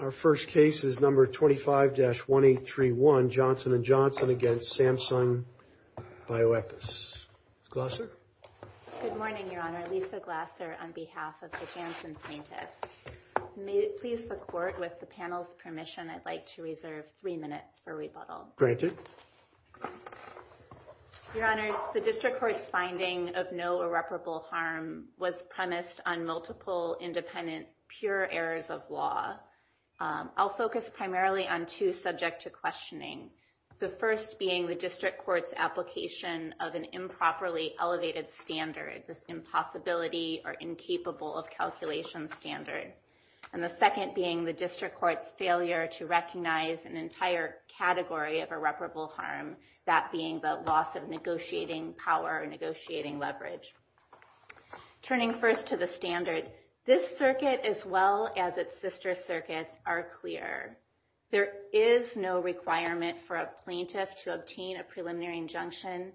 Our first case is number 25-1831, Johnson & Johnson v. Samsung Bioepis. Glasser? Good morning, Your Honor. Lisa Glasser on behalf of the Janssen plaintiffs. May it please the Court, with the panel's permission, I'd like to reserve three minutes for rebuttal. Your Honors, the District Court's finding of no irreparable harm was premised on multiple independent, pure errors of law. I'll focus primarily on two subject to questioning. The first being the District Court's application of an improperly elevated standard, this impossibility or incapable of calculation standard. And the second being the District Court's failure to recognize an entire category of irreparable harm, that being the loss of negotiating power or negotiating leverage. Turning first to the standard, this circuit as well as its sister circuits are clear. There is no requirement for a plaintiff to obtain a preliminary injunction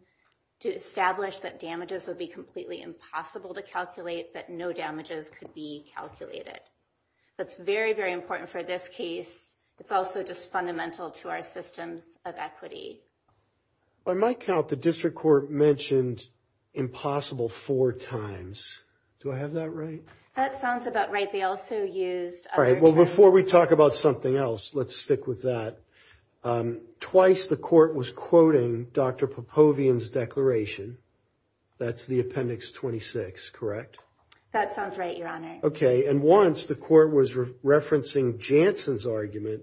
to establish that damages would be completely impossible to calculate, that no damages could be calculated. That's very, very important for this case. It's also just fundamental to our systems of equity. On my count, the District Court mentioned impossible four times. Do I have that right? That sounds about right. They also used other terms. Before we talk about something else, let's stick with that. Twice the court was quoting Dr. Popovian's declaration. That's the Appendix 26, correct? That sounds right, Your Honor. Okay, and once the court was referencing Janssen's argument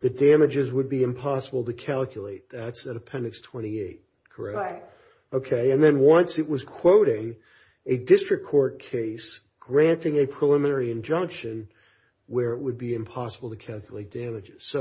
that damages would be impossible to calculate. That's at Appendix 28, correct? Correct. Okay, and then once it was quoting a District Court case granting a preliminary injunction where it would be impossible to calculate damages.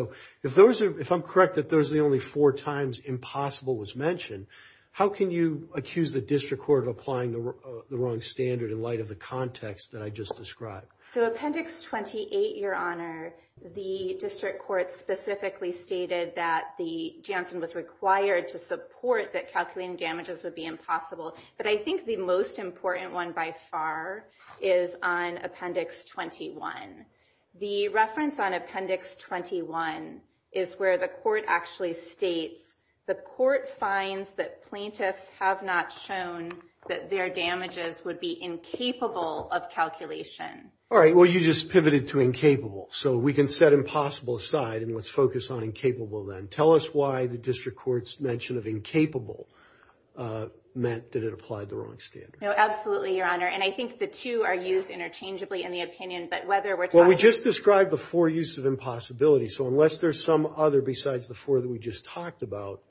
If I'm correct that those are the only four times impossible was mentioned, how can you accuse the District Court of applying the wrong standard in light of the context that I just described? So Appendix 28, Your Honor, the District Court specifically stated that Janssen was required to support that calculating damages would be impossible. But I think the most important one by far is on Appendix 21. The reference on Appendix 21 is where the court actually states the court finds that plaintiffs have not shown that their damages would be incapable of calculation. All right, well you just pivoted to incapable, so we can set impossible aside and let's focus on incapable then. Tell us why the District Court's mention of incapable meant that it applied the wrong standard. No, absolutely, Your Honor, and I think the two are used interchangeably in the opinion, but whether we're talking about... Well, we just described the four uses of impossibility, so unless there's some other besides the four that we just talked about,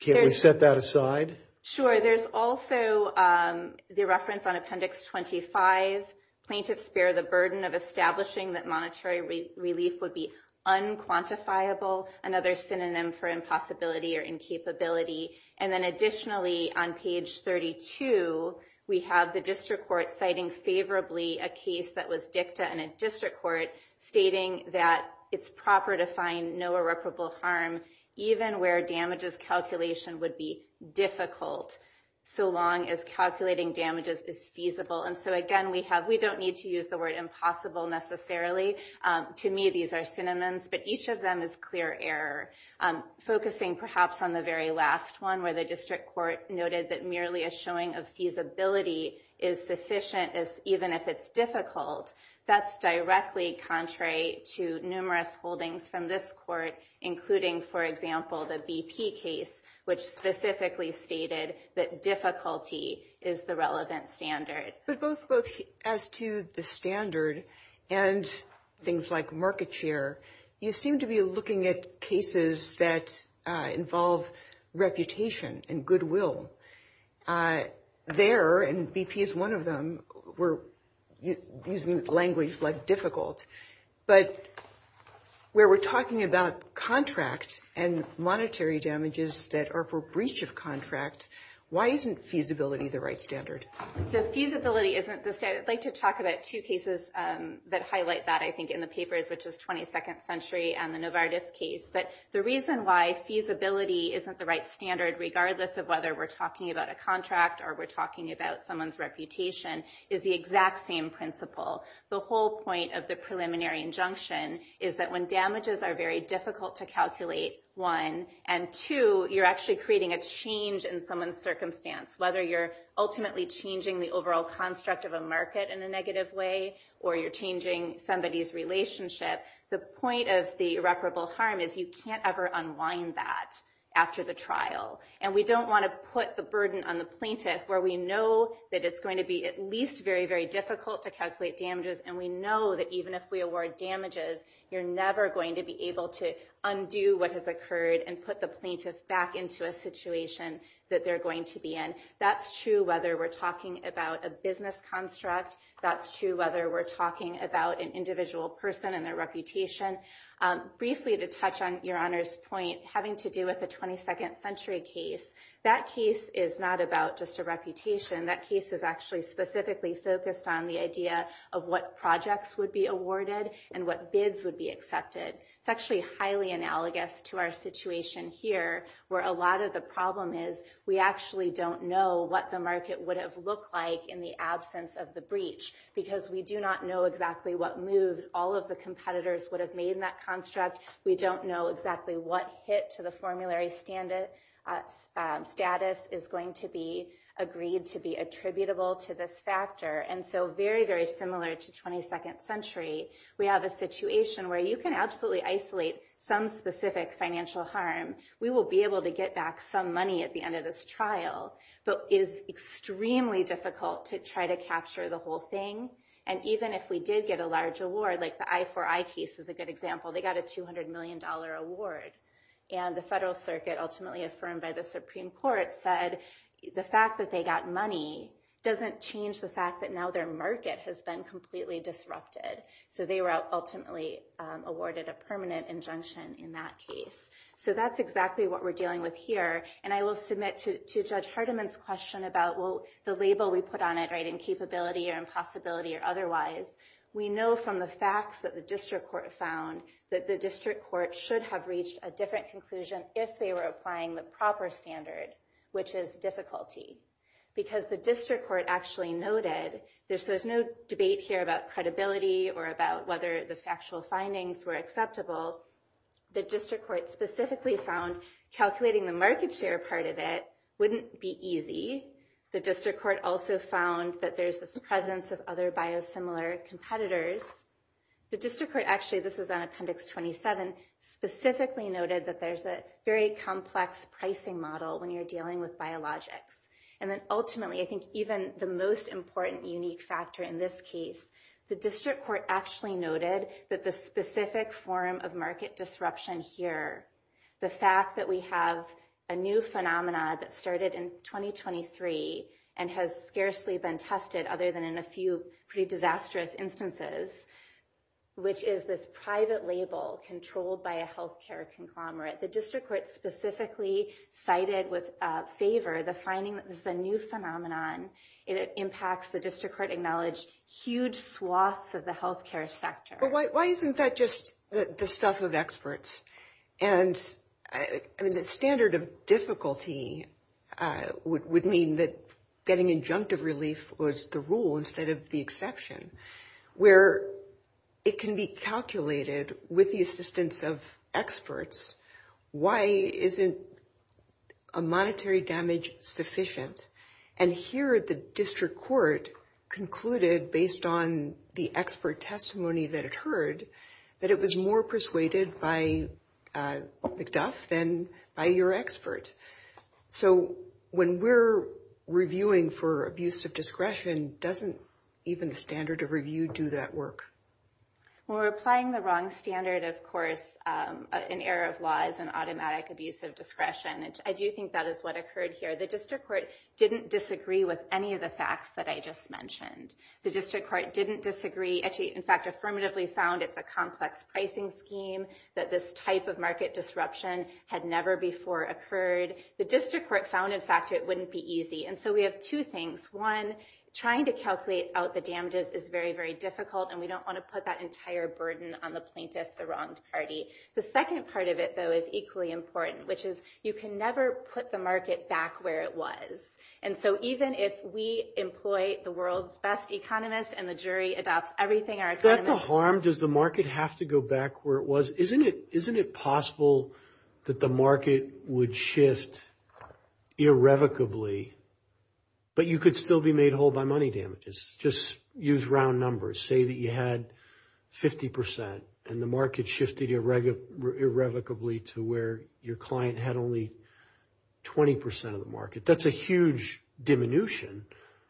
can't we set that aside? Sure, there's also the reference on Appendix 25, plaintiffs bear the burden of establishing that monetary relief would be unquantifiable, another synonym for impossibility or incapability. And then additionally, on page 32, we have the District Court citing favorably a case that was dicta in a District Court stating that it's proper to find no irreparable harm, even where damages calculation would be difficult, so long as calculating damages is feasible. And so again, we don't need to use the word impossible necessarily. To me, these are synonyms, but each of them is clear error. Focusing perhaps on the very last one, where the District Court noted that merely a showing of feasibility is sufficient, even if it's difficult, that's directly contrary to numerous holdings from this Court, including, for example, the BP case, which specifically stated that difficulty is the relevant standard. But both as to the standard and things like market share, you seem to be looking at cases that involve reputation and goodwill. There, and BP is one of them, we're using language like difficult. But where we're talking about contract and monetary damages that are for breach of contract, why isn't feasibility the right standard? So feasibility isn't the standard. I'd like to talk about two cases that highlight that, I think, in the papers, which is 22nd Century and the Novartis case. But the reason why feasibility isn't the right standard, regardless of whether we're talking about a contract or we're talking about someone's reputation, is the exact same principle. The whole point of the preliminary injunction is that when damages are very difficult to calculate, one, and two, you're actually creating a change in someone's circumstance. Whether you're ultimately changing the overall construct of a market in a negative way, or you're changing somebody's relationship, the point of the irreparable harm is you can't ever unwind that after the trial. And we don't want to put the burden on the plaintiff, where we know that it's going to be at least very, very difficult to calculate damages, and we know that even if we award damages, you're never going to be able to undo what has occurred and put the plaintiff back into a situation that they're going to be in. That's true whether we're talking about a business construct. That's true whether we're talking about an individual person and their reputation. Briefly, to touch on Your Honor's point, having to do with the 22nd Century case, that case is not about just a reputation. That case is actually specifically focused on the idea of what projects would be awarded and what bids would be accepted. It's actually highly analogous to our situation here, where a lot of the problem is we actually don't know what the market would have looked like in the absence of the breach, because we do not know exactly what moves all of the competitors would have made in that construct. We don't know exactly what hit to the formulary status is going to be agreed to be attributable to this factor. And so very, very similar to 22nd Century, we have a situation where you can absolutely isolate some specific financial harm. We will be able to get back some money at the end of this trial, but it is extremely difficult to try to capture the whole thing. And even if we did get a large award, like the I4I case is a good example. They got a $200 million award. And the Federal Circuit, ultimately affirmed by the Supreme Court, said the fact that they got money doesn't change the fact that now their market has been completely disrupted. So they were ultimately awarded a permanent injunction in that case. So that's exactly what we're dealing with here. And I will submit to Judge Hardiman's question about, well, the label we put on it, right? Incapability or impossibility or otherwise. We know from the facts that the district court found that the district court should have reached a different conclusion if they were applying the proper standard, which is difficulty. Because the district court actually noted, there's no debate here about credibility or about whether the factual findings were acceptable. The district court specifically found calculating the market share part of it wouldn't be easy. The district court also found that there's this presence of other biosimilar competitors. The district court actually, this is on Appendix 27, specifically noted that there's a very complex pricing model when you're dealing with biologics. And then ultimately, I think even the most important unique factor in this case, the district court actually noted that the specific form of market disruption here, the fact that we have a new phenomenon that started in 2023 and has scarcely been tested other than in a few pretty disastrous instances, which is this private label controlled by a health care conglomerate. The district court specifically cited with favor the finding that this is a new phenomenon. It impacts the district court acknowledged huge swaths of the health care sector. But why isn't that just the stuff of experts? And I mean, the standard of difficulty would mean that getting injunctive relief was the rule instead of the exception, where it can be calculated with the assistance of experts. Why isn't a monetary damage sufficient? And here the district court concluded, based on the expert testimony that it heard, that it was more persuaded by McDuff than by your expert. So when we're reviewing for abuse of discretion, doesn't even the standard of review do that work? Well, we're applying the wrong standard, of course. An error of law is an automatic abuse of discretion. And I do think that is what occurred here. The district court didn't disagree with any of the facts that I just mentioned. The district court didn't disagree. Actually, in fact, affirmatively found it's a complex pricing scheme, that this type of market disruption had never before occurred. The district court found, in fact, it wouldn't be easy. And so we have two things. One, trying to calculate out the damages is very, very difficult. And we don't want to put that entire burden on the plaintiff, the wronged party. The second part of it, though, is equally important, which is you can never put the market back where it was. And so even if we employ the world's best economist and the jury adopts everything our economists do. Is that the harm? Does the market have to go back where it was? Isn't it possible that the market would shift irrevocably, but you could still be made whole by money damages? Just use round numbers. Say that you had 50%, and the market shifted irrevocably to where your client had only 20% of the market. That's a huge diminution.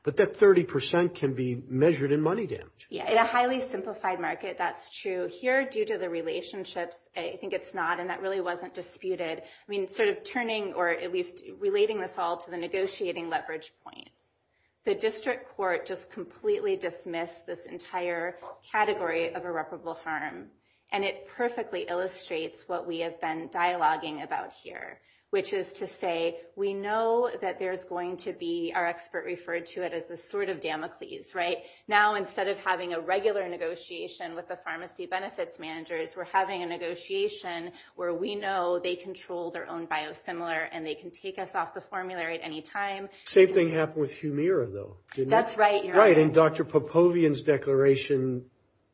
But that 30% can be measured in money damage. Yeah, in a highly simplified market, that's true. Here, due to the relationships, I think it's not, and that really wasn't disputed. I mean, sort of turning, or at least relating this all to the negotiating leverage point. The district court just completely dismissed this entire category of irreparable harm. And it perfectly illustrates what we have been dialoguing about here, which is to say, we know that there's going to be, our expert referred to it as this sort of Damocles, right? Now, instead of having a regular negotiation with the pharmacy benefits managers, we're having a negotiation where we know they control their own biosimilar, and they can take us off the formulary at any time. Same thing happened with Humira, though. That's right. Right, and Dr. Popovian's declaration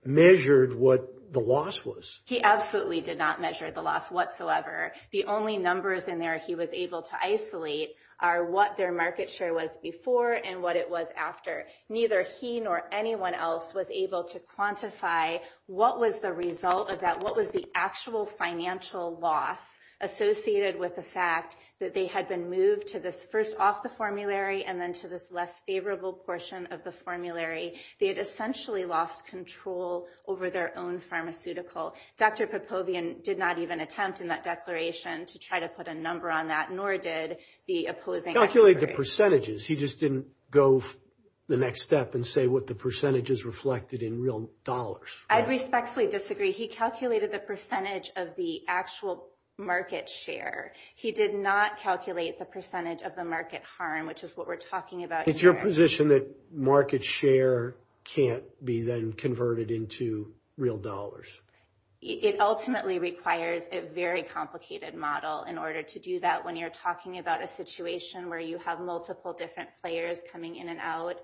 measured what the loss was. He absolutely did not measure the loss whatsoever. The only numbers in there he was able to isolate are what their market share was before and what it was after. Neither he nor anyone else was able to quantify what was the result of that, what was the actual financial loss associated with the fact that they had been moved to this first off the formulary and then to this less favorable portion of the formulary. They had essentially lost control over their own pharmaceutical. Dr. Popovian did not even attempt in that declaration to try to put a number on that, nor did the opposing experts. Calculate the percentages. He just didn't go the next step and say what the percentages reflected in real dollars. I respectfully disagree. He calculated the percentage of the actual market share. He did not calculate the percentage of the market harm, which is what we're talking about here. It's your position that market share can't be then converted into real dollars? It ultimately requires a very complicated model in order to do that when you're talking about a situation where you have multiple different players coming in and out.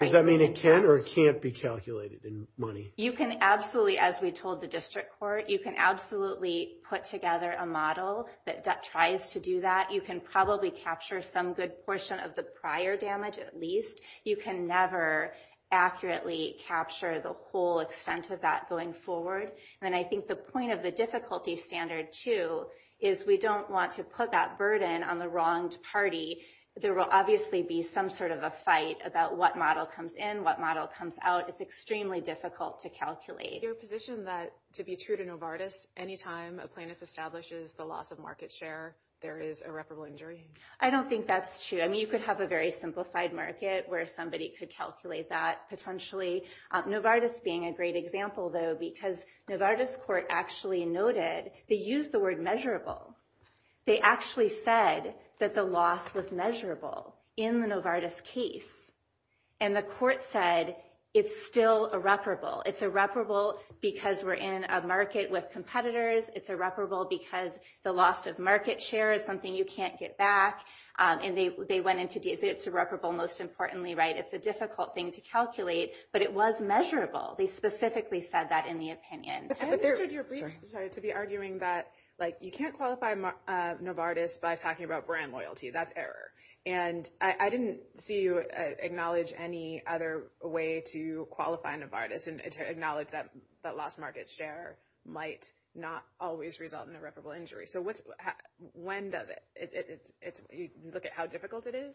Does that mean it can or can't be calculated in money? You can absolutely, as we told the district court, you can absolutely put together a model that tries to do that. You can probably capture some good portion of the prior damage at least. You can never accurately capture the whole extent of that going forward. And I think the point of the difficulty standard, too, is we don't want to put that burden on the wronged party. There will obviously be some sort of a fight about what model comes in, what model comes out. It's extremely difficult to calculate. Is your position that to be true to Novartis, any time a plaintiff establishes the loss of market share, there is irreparable injury? I don't think that's true. I mean, you could have a very simplified market where somebody could calculate that potentially. Novartis being a great example, though, because Novartis court actually noted they used the word measurable. They actually said that the loss was measurable in the Novartis case. And the court said it's still irreparable. It's irreparable because we're in a market with competitors. It's irreparable because the loss of market share is something you can't get back. It's irreparable, most importantly. It's a difficult thing to calculate, but it was measurable. They specifically said that in the opinion. I understood your brief to be arguing that you can't qualify Novartis by talking about brand loyalty. That's error. And I didn't see you acknowledge any other way to qualify Novartis and to acknowledge that lost market share might not always result in irreparable injury. So when does it? You look at how difficult it is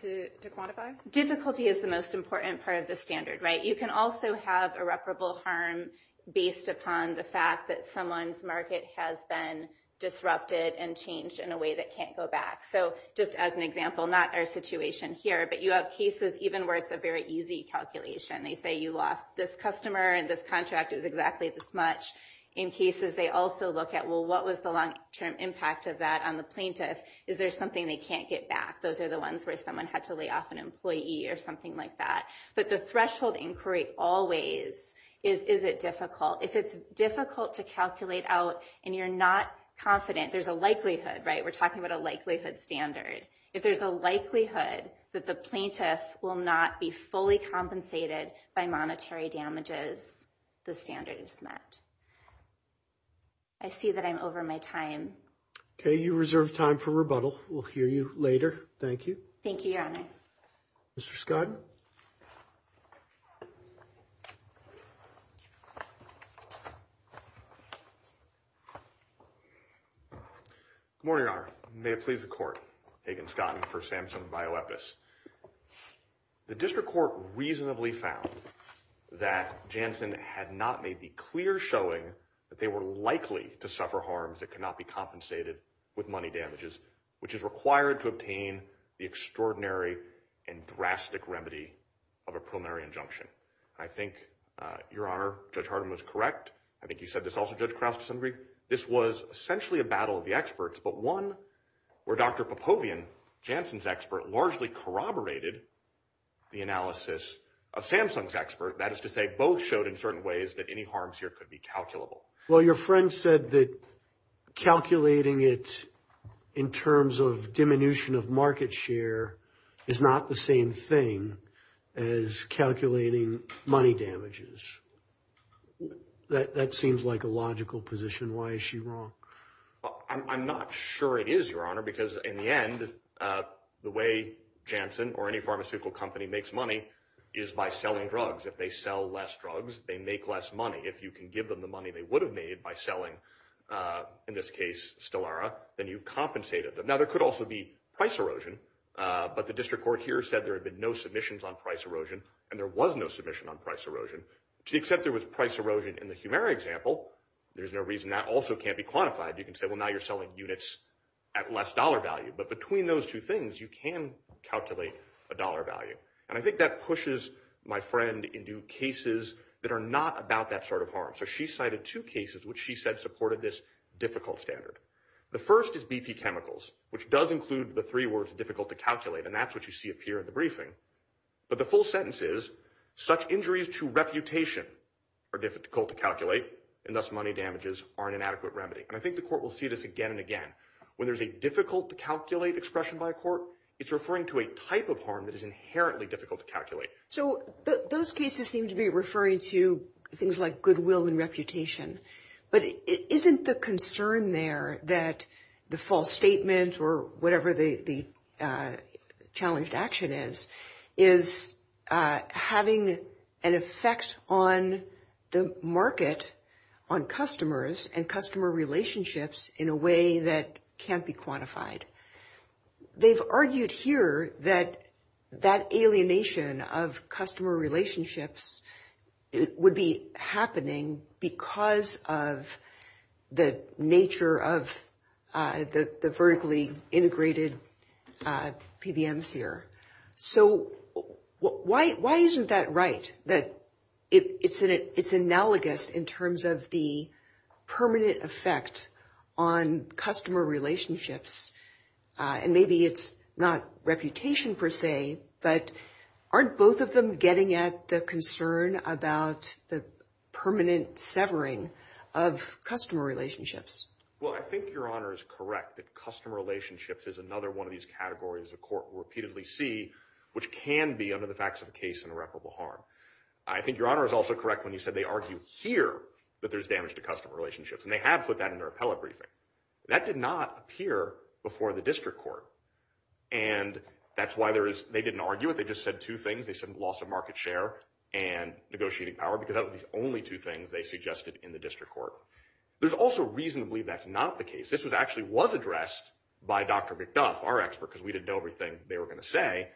to quantify? Difficulty is the most important part of the standard, right? You can also have irreparable harm based upon the fact that someone's market has been disrupted and changed in a way that can't go back. So just as an example, not our situation here, but you have cases even where it's a very easy calculation. They say you lost this customer and this contract is exactly this much. In cases, they also look at, well, what was the long-term impact of that on the plaintiff? Is there something they can't get back? Those are the ones where someone had to lay off an employee or something like that. But the threshold inquiry always is, is it difficult? If it's difficult to calculate out and you're not confident, there's a likelihood, right? We're talking about a likelihood standard. If there's a likelihood that the plaintiff will not be fully compensated by monetary damages, the standard is met. I see that I'm over my time. Okay, you reserve time for rebuttal. We'll hear you later. Thank you. Thank you, Your Honor. Mr. Scott. Good morning, Your Honor. May it please the Court. Hagan Scott for SAMHSA and BioEpis. The district court reasonably found that Janssen had not made the clear showing that they were likely to suffer harms that could not be compensated with money damages, which is required to obtain the extraordinary and drastic remedy of a preliminary injunction. I think, Your Honor, Judge Harden was correct. I think you said this also, Judge Krause, to some degree. This was essentially a battle of the experts, but one where Dr. Popovian, Janssen's expert, largely corroborated the analysis of Samsung's expert. That is to say, both showed in certain ways that any harms here could be calculable. Well, your friend said that calculating it in terms of diminution of market share is not the same thing as calculating money damages. That seems like a logical position. Why is she wrong? I'm not sure it is, Your Honor, because in the end, the way Janssen or any pharmaceutical company makes money is by selling drugs. If they sell less drugs, they make less money. If you can give them the money they would have made by selling, in this case, Stelara, then you've compensated them. Now, there could also be price erosion. But the district court here said there had been no submissions on price erosion, and there was no submission on price erosion. To the extent there was price erosion in the Humira example, there's no reason that also can't be quantified. You can say, well, now you're selling units at less dollar value. But between those two things, you can calculate a dollar value. And I think that pushes my friend into cases that are not about that sort of harm. So she cited two cases which she said supported this difficult standard. The first is BP Chemicals, which does include the three words difficult to calculate, and that's what you see appear in the briefing. But the full sentence is, such injuries to reputation are difficult to calculate, and thus money damages are an inadequate remedy. And I think the court will see this again and again. When there's a difficult to calculate expression by a court, it's referring to a type of harm that is inherently difficult to calculate. So those cases seem to be referring to things like goodwill and reputation. But isn't the concern there that the false statement or whatever the challenged action is, is having an effect on the market, on customers, and customer relationships in a way that can't be quantified? They've argued here that that alienation of customer relationships would be happening because of the nature of the vertically integrated PBMs here. So why isn't that right, that it's analogous in terms of the permanent effect on customer relationships? And maybe it's not reputation per se, but aren't both of them getting at the concern about the permanent severing of customer relationships? Well, I think Your Honor is correct that customer relationships is another one of these categories the court will repeatedly see, which can be under the facts of a case in irreparable harm. I think Your Honor is also correct when you said they argued here that there's damage to customer relationships. And they have put that in their appellate briefing. That did not appear before the district court. And that's why they didn't argue it. They just said two things. They said loss of market share and negotiating power, because that was the only two things they suggested in the district court. There's also reason to believe that's not the case. This actually was addressed by Dr. McDuff, our expert, because we didn't know everything they were going to say.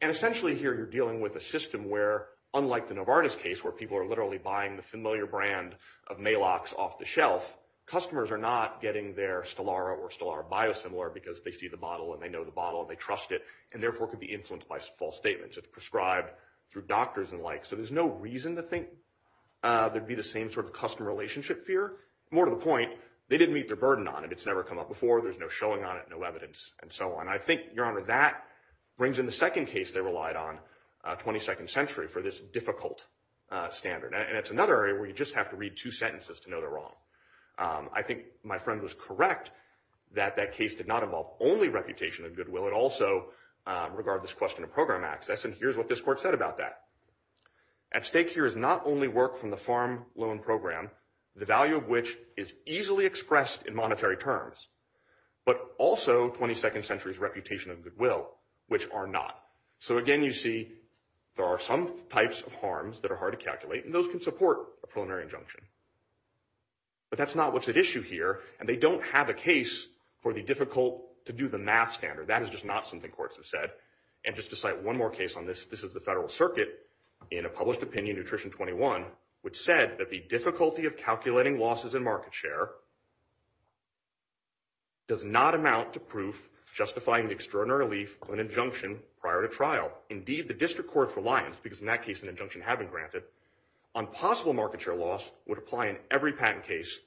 And essentially here you're dealing with a system where, unlike the Novartis case, where people are literally buying the familiar brand of Maalox off the shelf, customers are not getting their Stellara or Stellara Biosimilar because they see the bottle and they know the bottle and they trust it, and therefore could be influenced by false statements. It's prescribed through doctors and the like. So there's no reason to think there'd be the same sort of customer relationship fear. More to the point, they didn't meet their burden on it. It's never come up before. There's no showing on it, no evidence, and so on. I think, Your Honor, that brings in the second case they relied on, 22nd Century, for this difficult standard. And it's another area where you just have to read two sentences to know they're wrong. I think my friend was correct that that case did not involve only reputation and goodwill. I would also regard this question of program access, and here's what this court said about that. At stake here is not only work from the farm loan program, the value of which is easily expressed in monetary terms, but also 22nd Century's reputation and goodwill, which are not. So, again, you see there are some types of harms that are hard to calculate, and those can support a preliminary injunction. But that's not what's at issue here, and they don't have a case for the difficult-to-do-the-math standard. That is just not something courts have said. And just to cite one more case on this, this is the Federal Circuit in a published opinion, Nutrition 21, which said that the difficulty of calculating losses in market share does not amount to proof justifying the extraordinary relief of an injunction prior to trial. Indeed, the district court's reliance, because in that case an injunction had been granted, on possible market share loss would apply in every patent case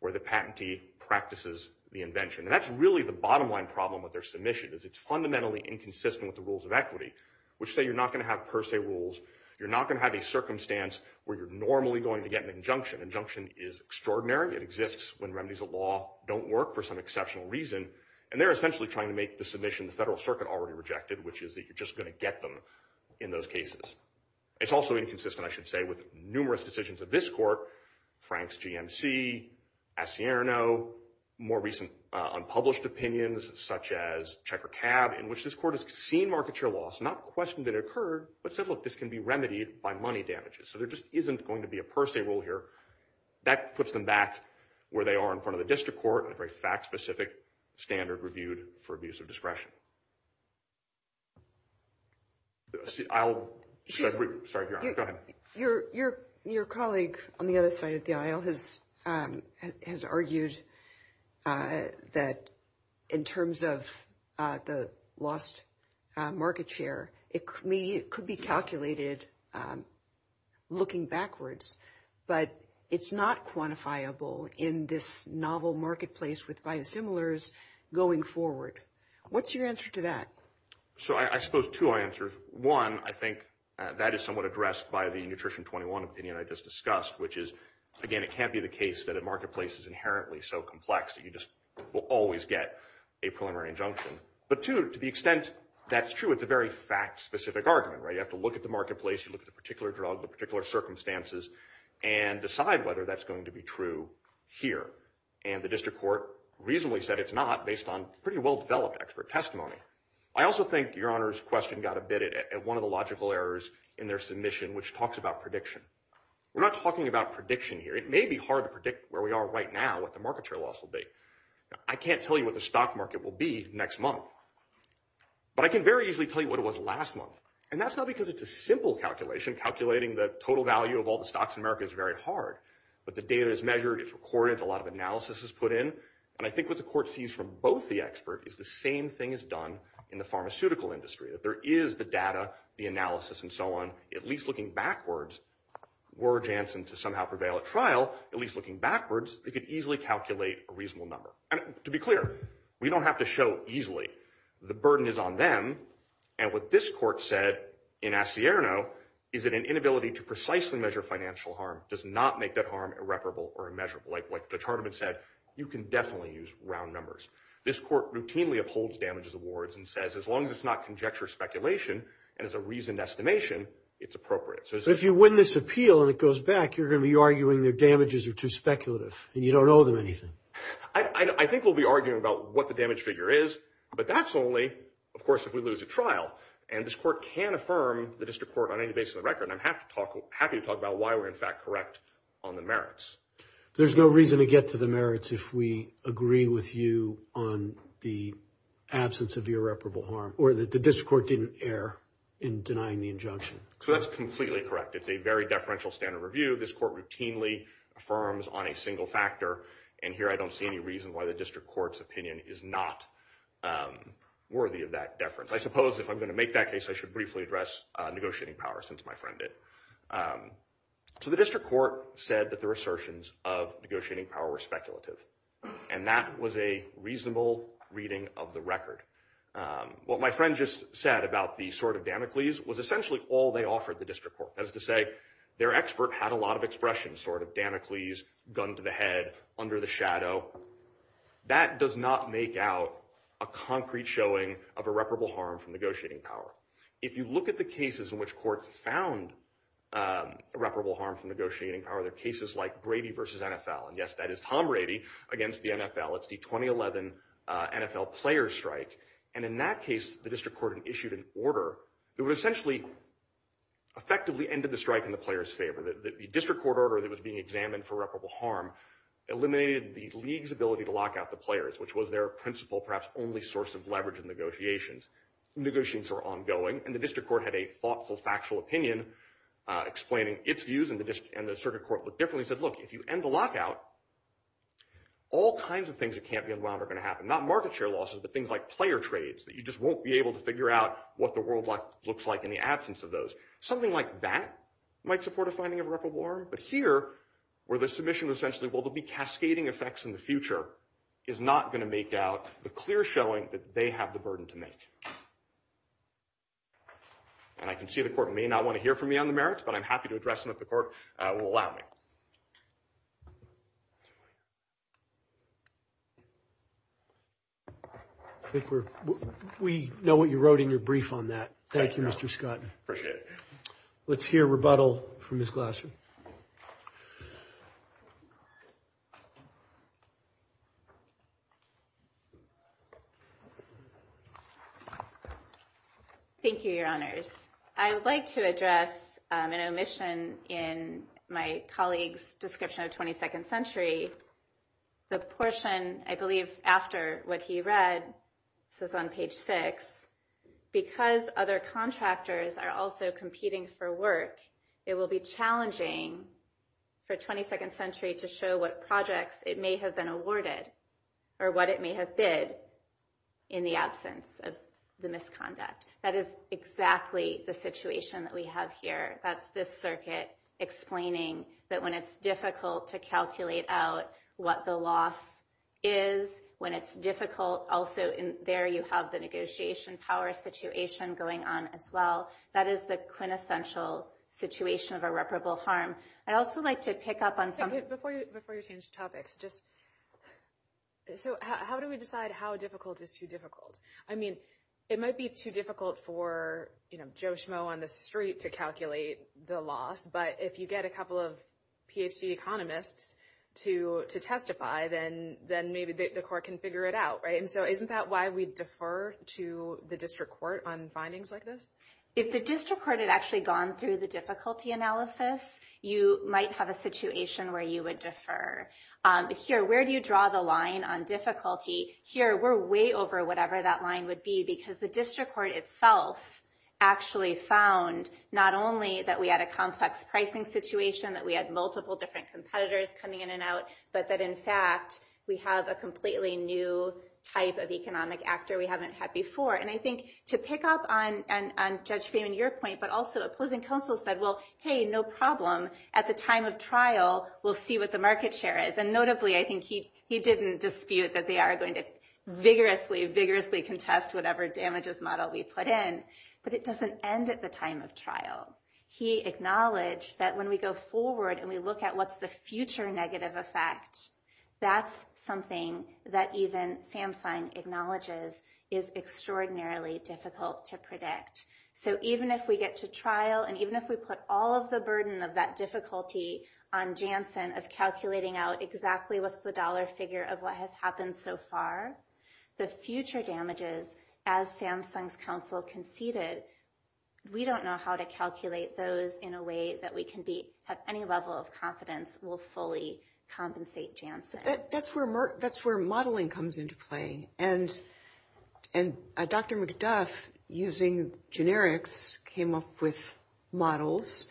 where the patentee practices the invention. And that's really the bottom-line problem with their submission, is it's fundamentally inconsistent with the rules of equity, which say you're not going to have per se rules. You're not going to have a circumstance where you're normally going to get an injunction. Injunction is extraordinary. It exists when remedies of law don't work for some exceptional reason. And they're essentially trying to make the submission the Federal Circuit already rejected, which is that you're just going to get them in those cases. It's also inconsistent, I should say, with numerous decisions of this court, Frank's GMC, Asierno, more recent unpublished opinions such as Checker Cab, in which this court has seen market share loss, not questioned that it occurred, but said, look, this can be remedied by money damages. So there just isn't going to be a per se rule here. That puts them back where they are in front of the district court, a very fact-specific standard reviewed for abuse of discretion. I'll start here. Go ahead. Your colleague on the other side of the aisle has argued that in terms of the lost market share, it could be calculated looking backwards, but it's not quantifiable in this novel marketplace with biosimilars going forward. What's your answer to that? So I suppose two answers. One, I think that is somewhat addressed by the Nutrition 21 opinion I just discussed, which is, again, it can't be the case that a marketplace is inherently so complex that you just will always get a preliminary injunction. But, two, to the extent that's true, it's a very fact-specific argument, right? You have to look at the marketplace, you look at the particular drug, the particular circumstances, and decide whether that's going to be true here. And the district court reasonably said it's not, based on pretty well-developed expert testimony. I also think Your Honor's question got a bit at one of the logical errors in their submission, which talks about prediction. We're not talking about prediction here. It may be hard to predict where we are right now, what the market share loss will be. I can't tell you what the stock market will be next month, but I can very easily tell you what it was last month. And that's not because it's a simple calculation. Calculating the total value of all the stocks in America is very hard, but the data is measured, it's recorded, a lot of analysis is put in. And I think what the court sees from both the experts is the same thing is done in the pharmaceutical industry. If there is the data, the analysis, and so on, at least looking backwards, were Janssen to somehow prevail at trial, at least looking backwards, they could easily calculate a reasonable number. And, to be clear, we don't have to show easily. The burden is on them. And what this court said in Asierno is that an inability to precisely measure financial harm does not make that harm irreparable or immeasurable. Like Dutch Harteman said, you can definitely use round numbers. This court routinely upholds damages awards and says as long as it's not conjecture speculation and is a reasoned estimation, it's appropriate. So if you win this appeal and it goes back, you're going to be arguing the damages are too speculative and you don't owe them anything. I think we'll be arguing about what the damage figure is, but that's only, of course, if we lose a trial. And this court can affirm, the district court on any basis of the record, and I'm happy to talk about why we're, in fact, correct on the merits. There's no reason to get to the merits if we agree with you on the absence of irreparable harm or that the district court didn't err in denying the injunction. So that's completely correct. It's a very deferential standard review. This court routinely affirms on a single factor, and here I don't see any reason why the district court's opinion is not worthy of that deference. I suppose if I'm going to make that case, I should briefly address negotiating power, since my friend did. So the district court said that the assertions of negotiating power were speculative, and that was a reasonable reading of the record. What my friend just said about the sword of Damocles was essentially all they offered the district court. That is to say, their expert had a lot of expression, sword of Damocles, gun to the head, under the shadow. That does not make out a concrete showing of irreparable harm from negotiating power. If you look at the cases in which courts found irreparable harm from negotiating power, there are cases like Brady v. NFL, and yes, that is Tom Brady against the NFL. It's the 2011 NFL player strike, and in that case, the district court had issued an order that would essentially effectively end the strike in the player's favor. The district court order that was being examined for irreparable harm eliminated the league's ability to lock out the players, which was their principal, perhaps only source of leverage in negotiations. Negotiations were ongoing, and the district court had a thoughtful, factual opinion explaining its views, and the circuit court looked differently and said, look, if you end the lockout, all kinds of things that can't be unwound are going to happen. Not market share losses, but things like player trades, that you just won't be able to figure out what the world looks like in the absence of those. Something like that might support a finding of irreparable harm, but here, where the submission was essentially, well, there will be cascading effects in the future, is not going to make out the clear showing that they have the burden to make. And I can see the court may not want to hear from me on the merits, but I'm happy to address them if the court will allow me. We know what you wrote in your brief on that. Thank you, Mr. Scott. Appreciate it. Let's hear rebuttal from Ms. Glassman. Thank you, Your Honors. I would like to address an omission in my colleague's description of 22nd century. The portion, I believe, after what he read, this is on page six, because other contractors are also competing for work, it will be challenging for 22nd century to show what projects it may have been awarded, or what it may have been in the absence of the misconduct. That is exactly the situation that we have here. That's this circuit explaining that when it's difficult to calculate out what the loss is, when it's difficult, also there you have the negotiation power situation going on as well. That is the quintessential situation of irreparable harm. I'd also like to pick up on something. Before you change topics, just, so how do we decide how difficult is too difficult? I mean, it might be too difficult for Joe Schmo on the street to calculate the loss, but if you get a couple of PhD economists to testify, then maybe the court can figure it out, right? And so isn't that why we defer to the district court on findings like this? If the district court had actually gone through the difficulty analysis, you might have a situation where you would defer. Here, where do you draw the line on difficulty? Here, we're way over whatever that line would be, because the district court itself actually found not only that we had a complex pricing situation, that we had multiple different competitors coming in and out, but that, in fact, we have a completely new type of economic actor we haven't had before. And I think to pick up on Judge Freeman, your point, but also opposing counsel said, well, hey, no problem. At the time of trial, we'll see what the market share is. And notably, I think he didn't dispute that they are going to vigorously, vigorously contest whatever damages model we put in, but it doesn't end at the time of trial. He acknowledged that when we go forward and we look at what's the future negative effect, that's something that even Samson acknowledges is extraordinarily difficult to predict. So even if we get to trial, and even if we put all of the burden of that difficulty on Jansen of calculating out exactly what's the dollar figure of what has happened so far, the future damages, as Samson's counsel conceded, we don't know how to calculate those in a way that we can be at any level of confidence will fully compensate Jansen. That's where modeling comes into play. And Dr. McDuff, using generics, came up with models.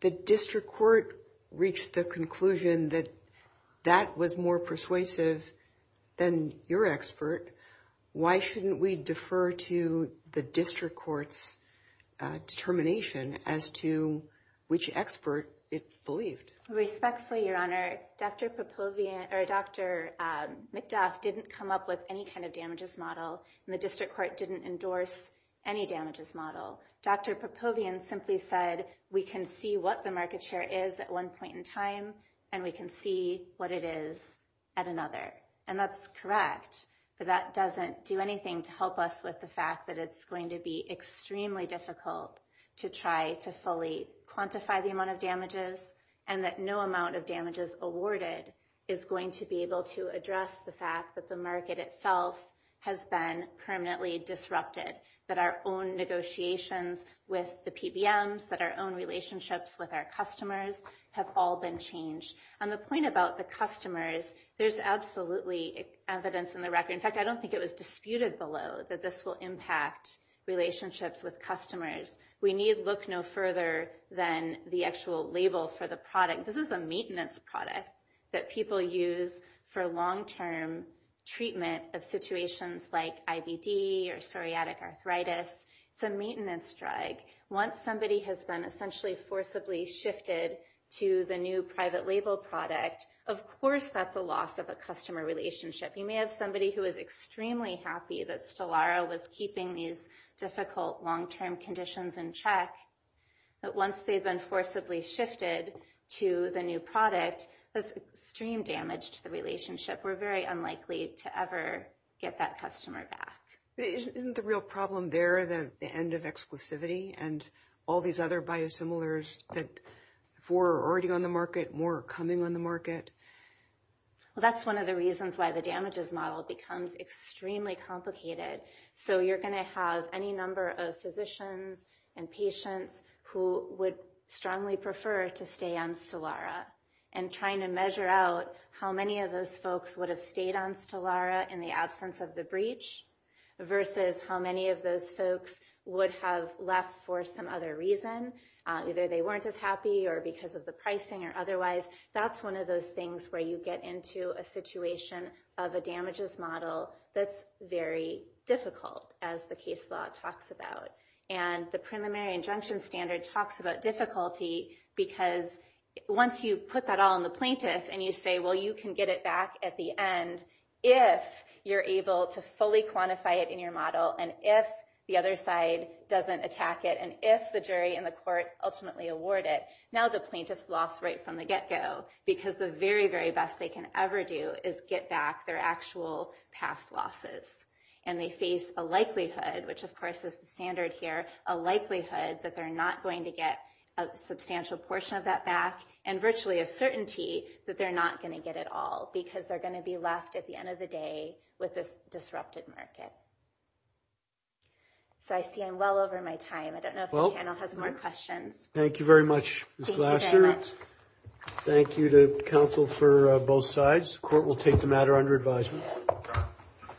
The district court reached the conclusion that that was more persuasive than your expert. Why shouldn't we defer to the district court's determination as to which expert it believed? Respectfully, Your Honor, Dr. McDuff didn't come up with any kind of damages model, and the district court didn't endorse any damages model. Dr. Popovian simply said, we can see what the market share is at one point in time, and we can see what it is at another. And that's correct, but that doesn't do anything to help us with the fact that it's going to be extremely difficult to try to fully quantify the amount of damages, and that no amount of damages awarded is going to be able to address the fact that the market itself has been permanently disrupted, that our own negotiations with the PBMs, that our own relationships with our customers have all been changed. And the point about the customers, there's absolutely evidence in the record. In fact, I don't think it was disputed below that this will impact relationships with customers. We need look no further than the actual label for the product. This is a maintenance product that people use for long-term treatment of situations like IBD or psoriatic arthritis. It's a maintenance drug. Once somebody has been essentially forcibly shifted to the new private label product, of course that's a loss of a customer relationship. You may have somebody who is extremely happy that Stellara was keeping these difficult long-term conditions in check, but once they've been forcibly shifted to the new product, that's extreme damage to the relationship. We're very unlikely to ever get that customer back. Isn't the real problem there the end of exclusivity and all these other biosimilars that before are already on the market, more are coming on the market? Well, that's one of the reasons why the damages model becomes extremely complicated. So you're going to have any number of physicians and patients who would strongly prefer to stay on Stellara and trying to measure out how many of those folks would have stayed on Stellara in the absence of the breach versus how many of those folks would have left for some other reason. Either they weren't as happy or because of the pricing or otherwise. That's one of those things where you get into a situation of a damages model that's very difficult, as the case law talks about. And the preliminary injunction standard talks about difficulty because once you put that all on the plaintiff and you say, well, you can get it back at the end if you're able to fully quantify it in your model and if the other side doesn't attack it and if the jury and the court ultimately award it, now the plaintiff's lost right from the get-go because the very, very best they can ever do is get back their actual past losses. And they face a likelihood, which of course is the standard here, a likelihood that they're not going to get a substantial portion of that back and virtually a certainty that they're not going to get it all because they're going to be left at the end of the day with this disrupted market. So I see I'm well over my time. I don't know if the panel has more questions. Thank you very much, Ms. Glasser. Thank you to counsel for both sides. The court will take the matter under advisement.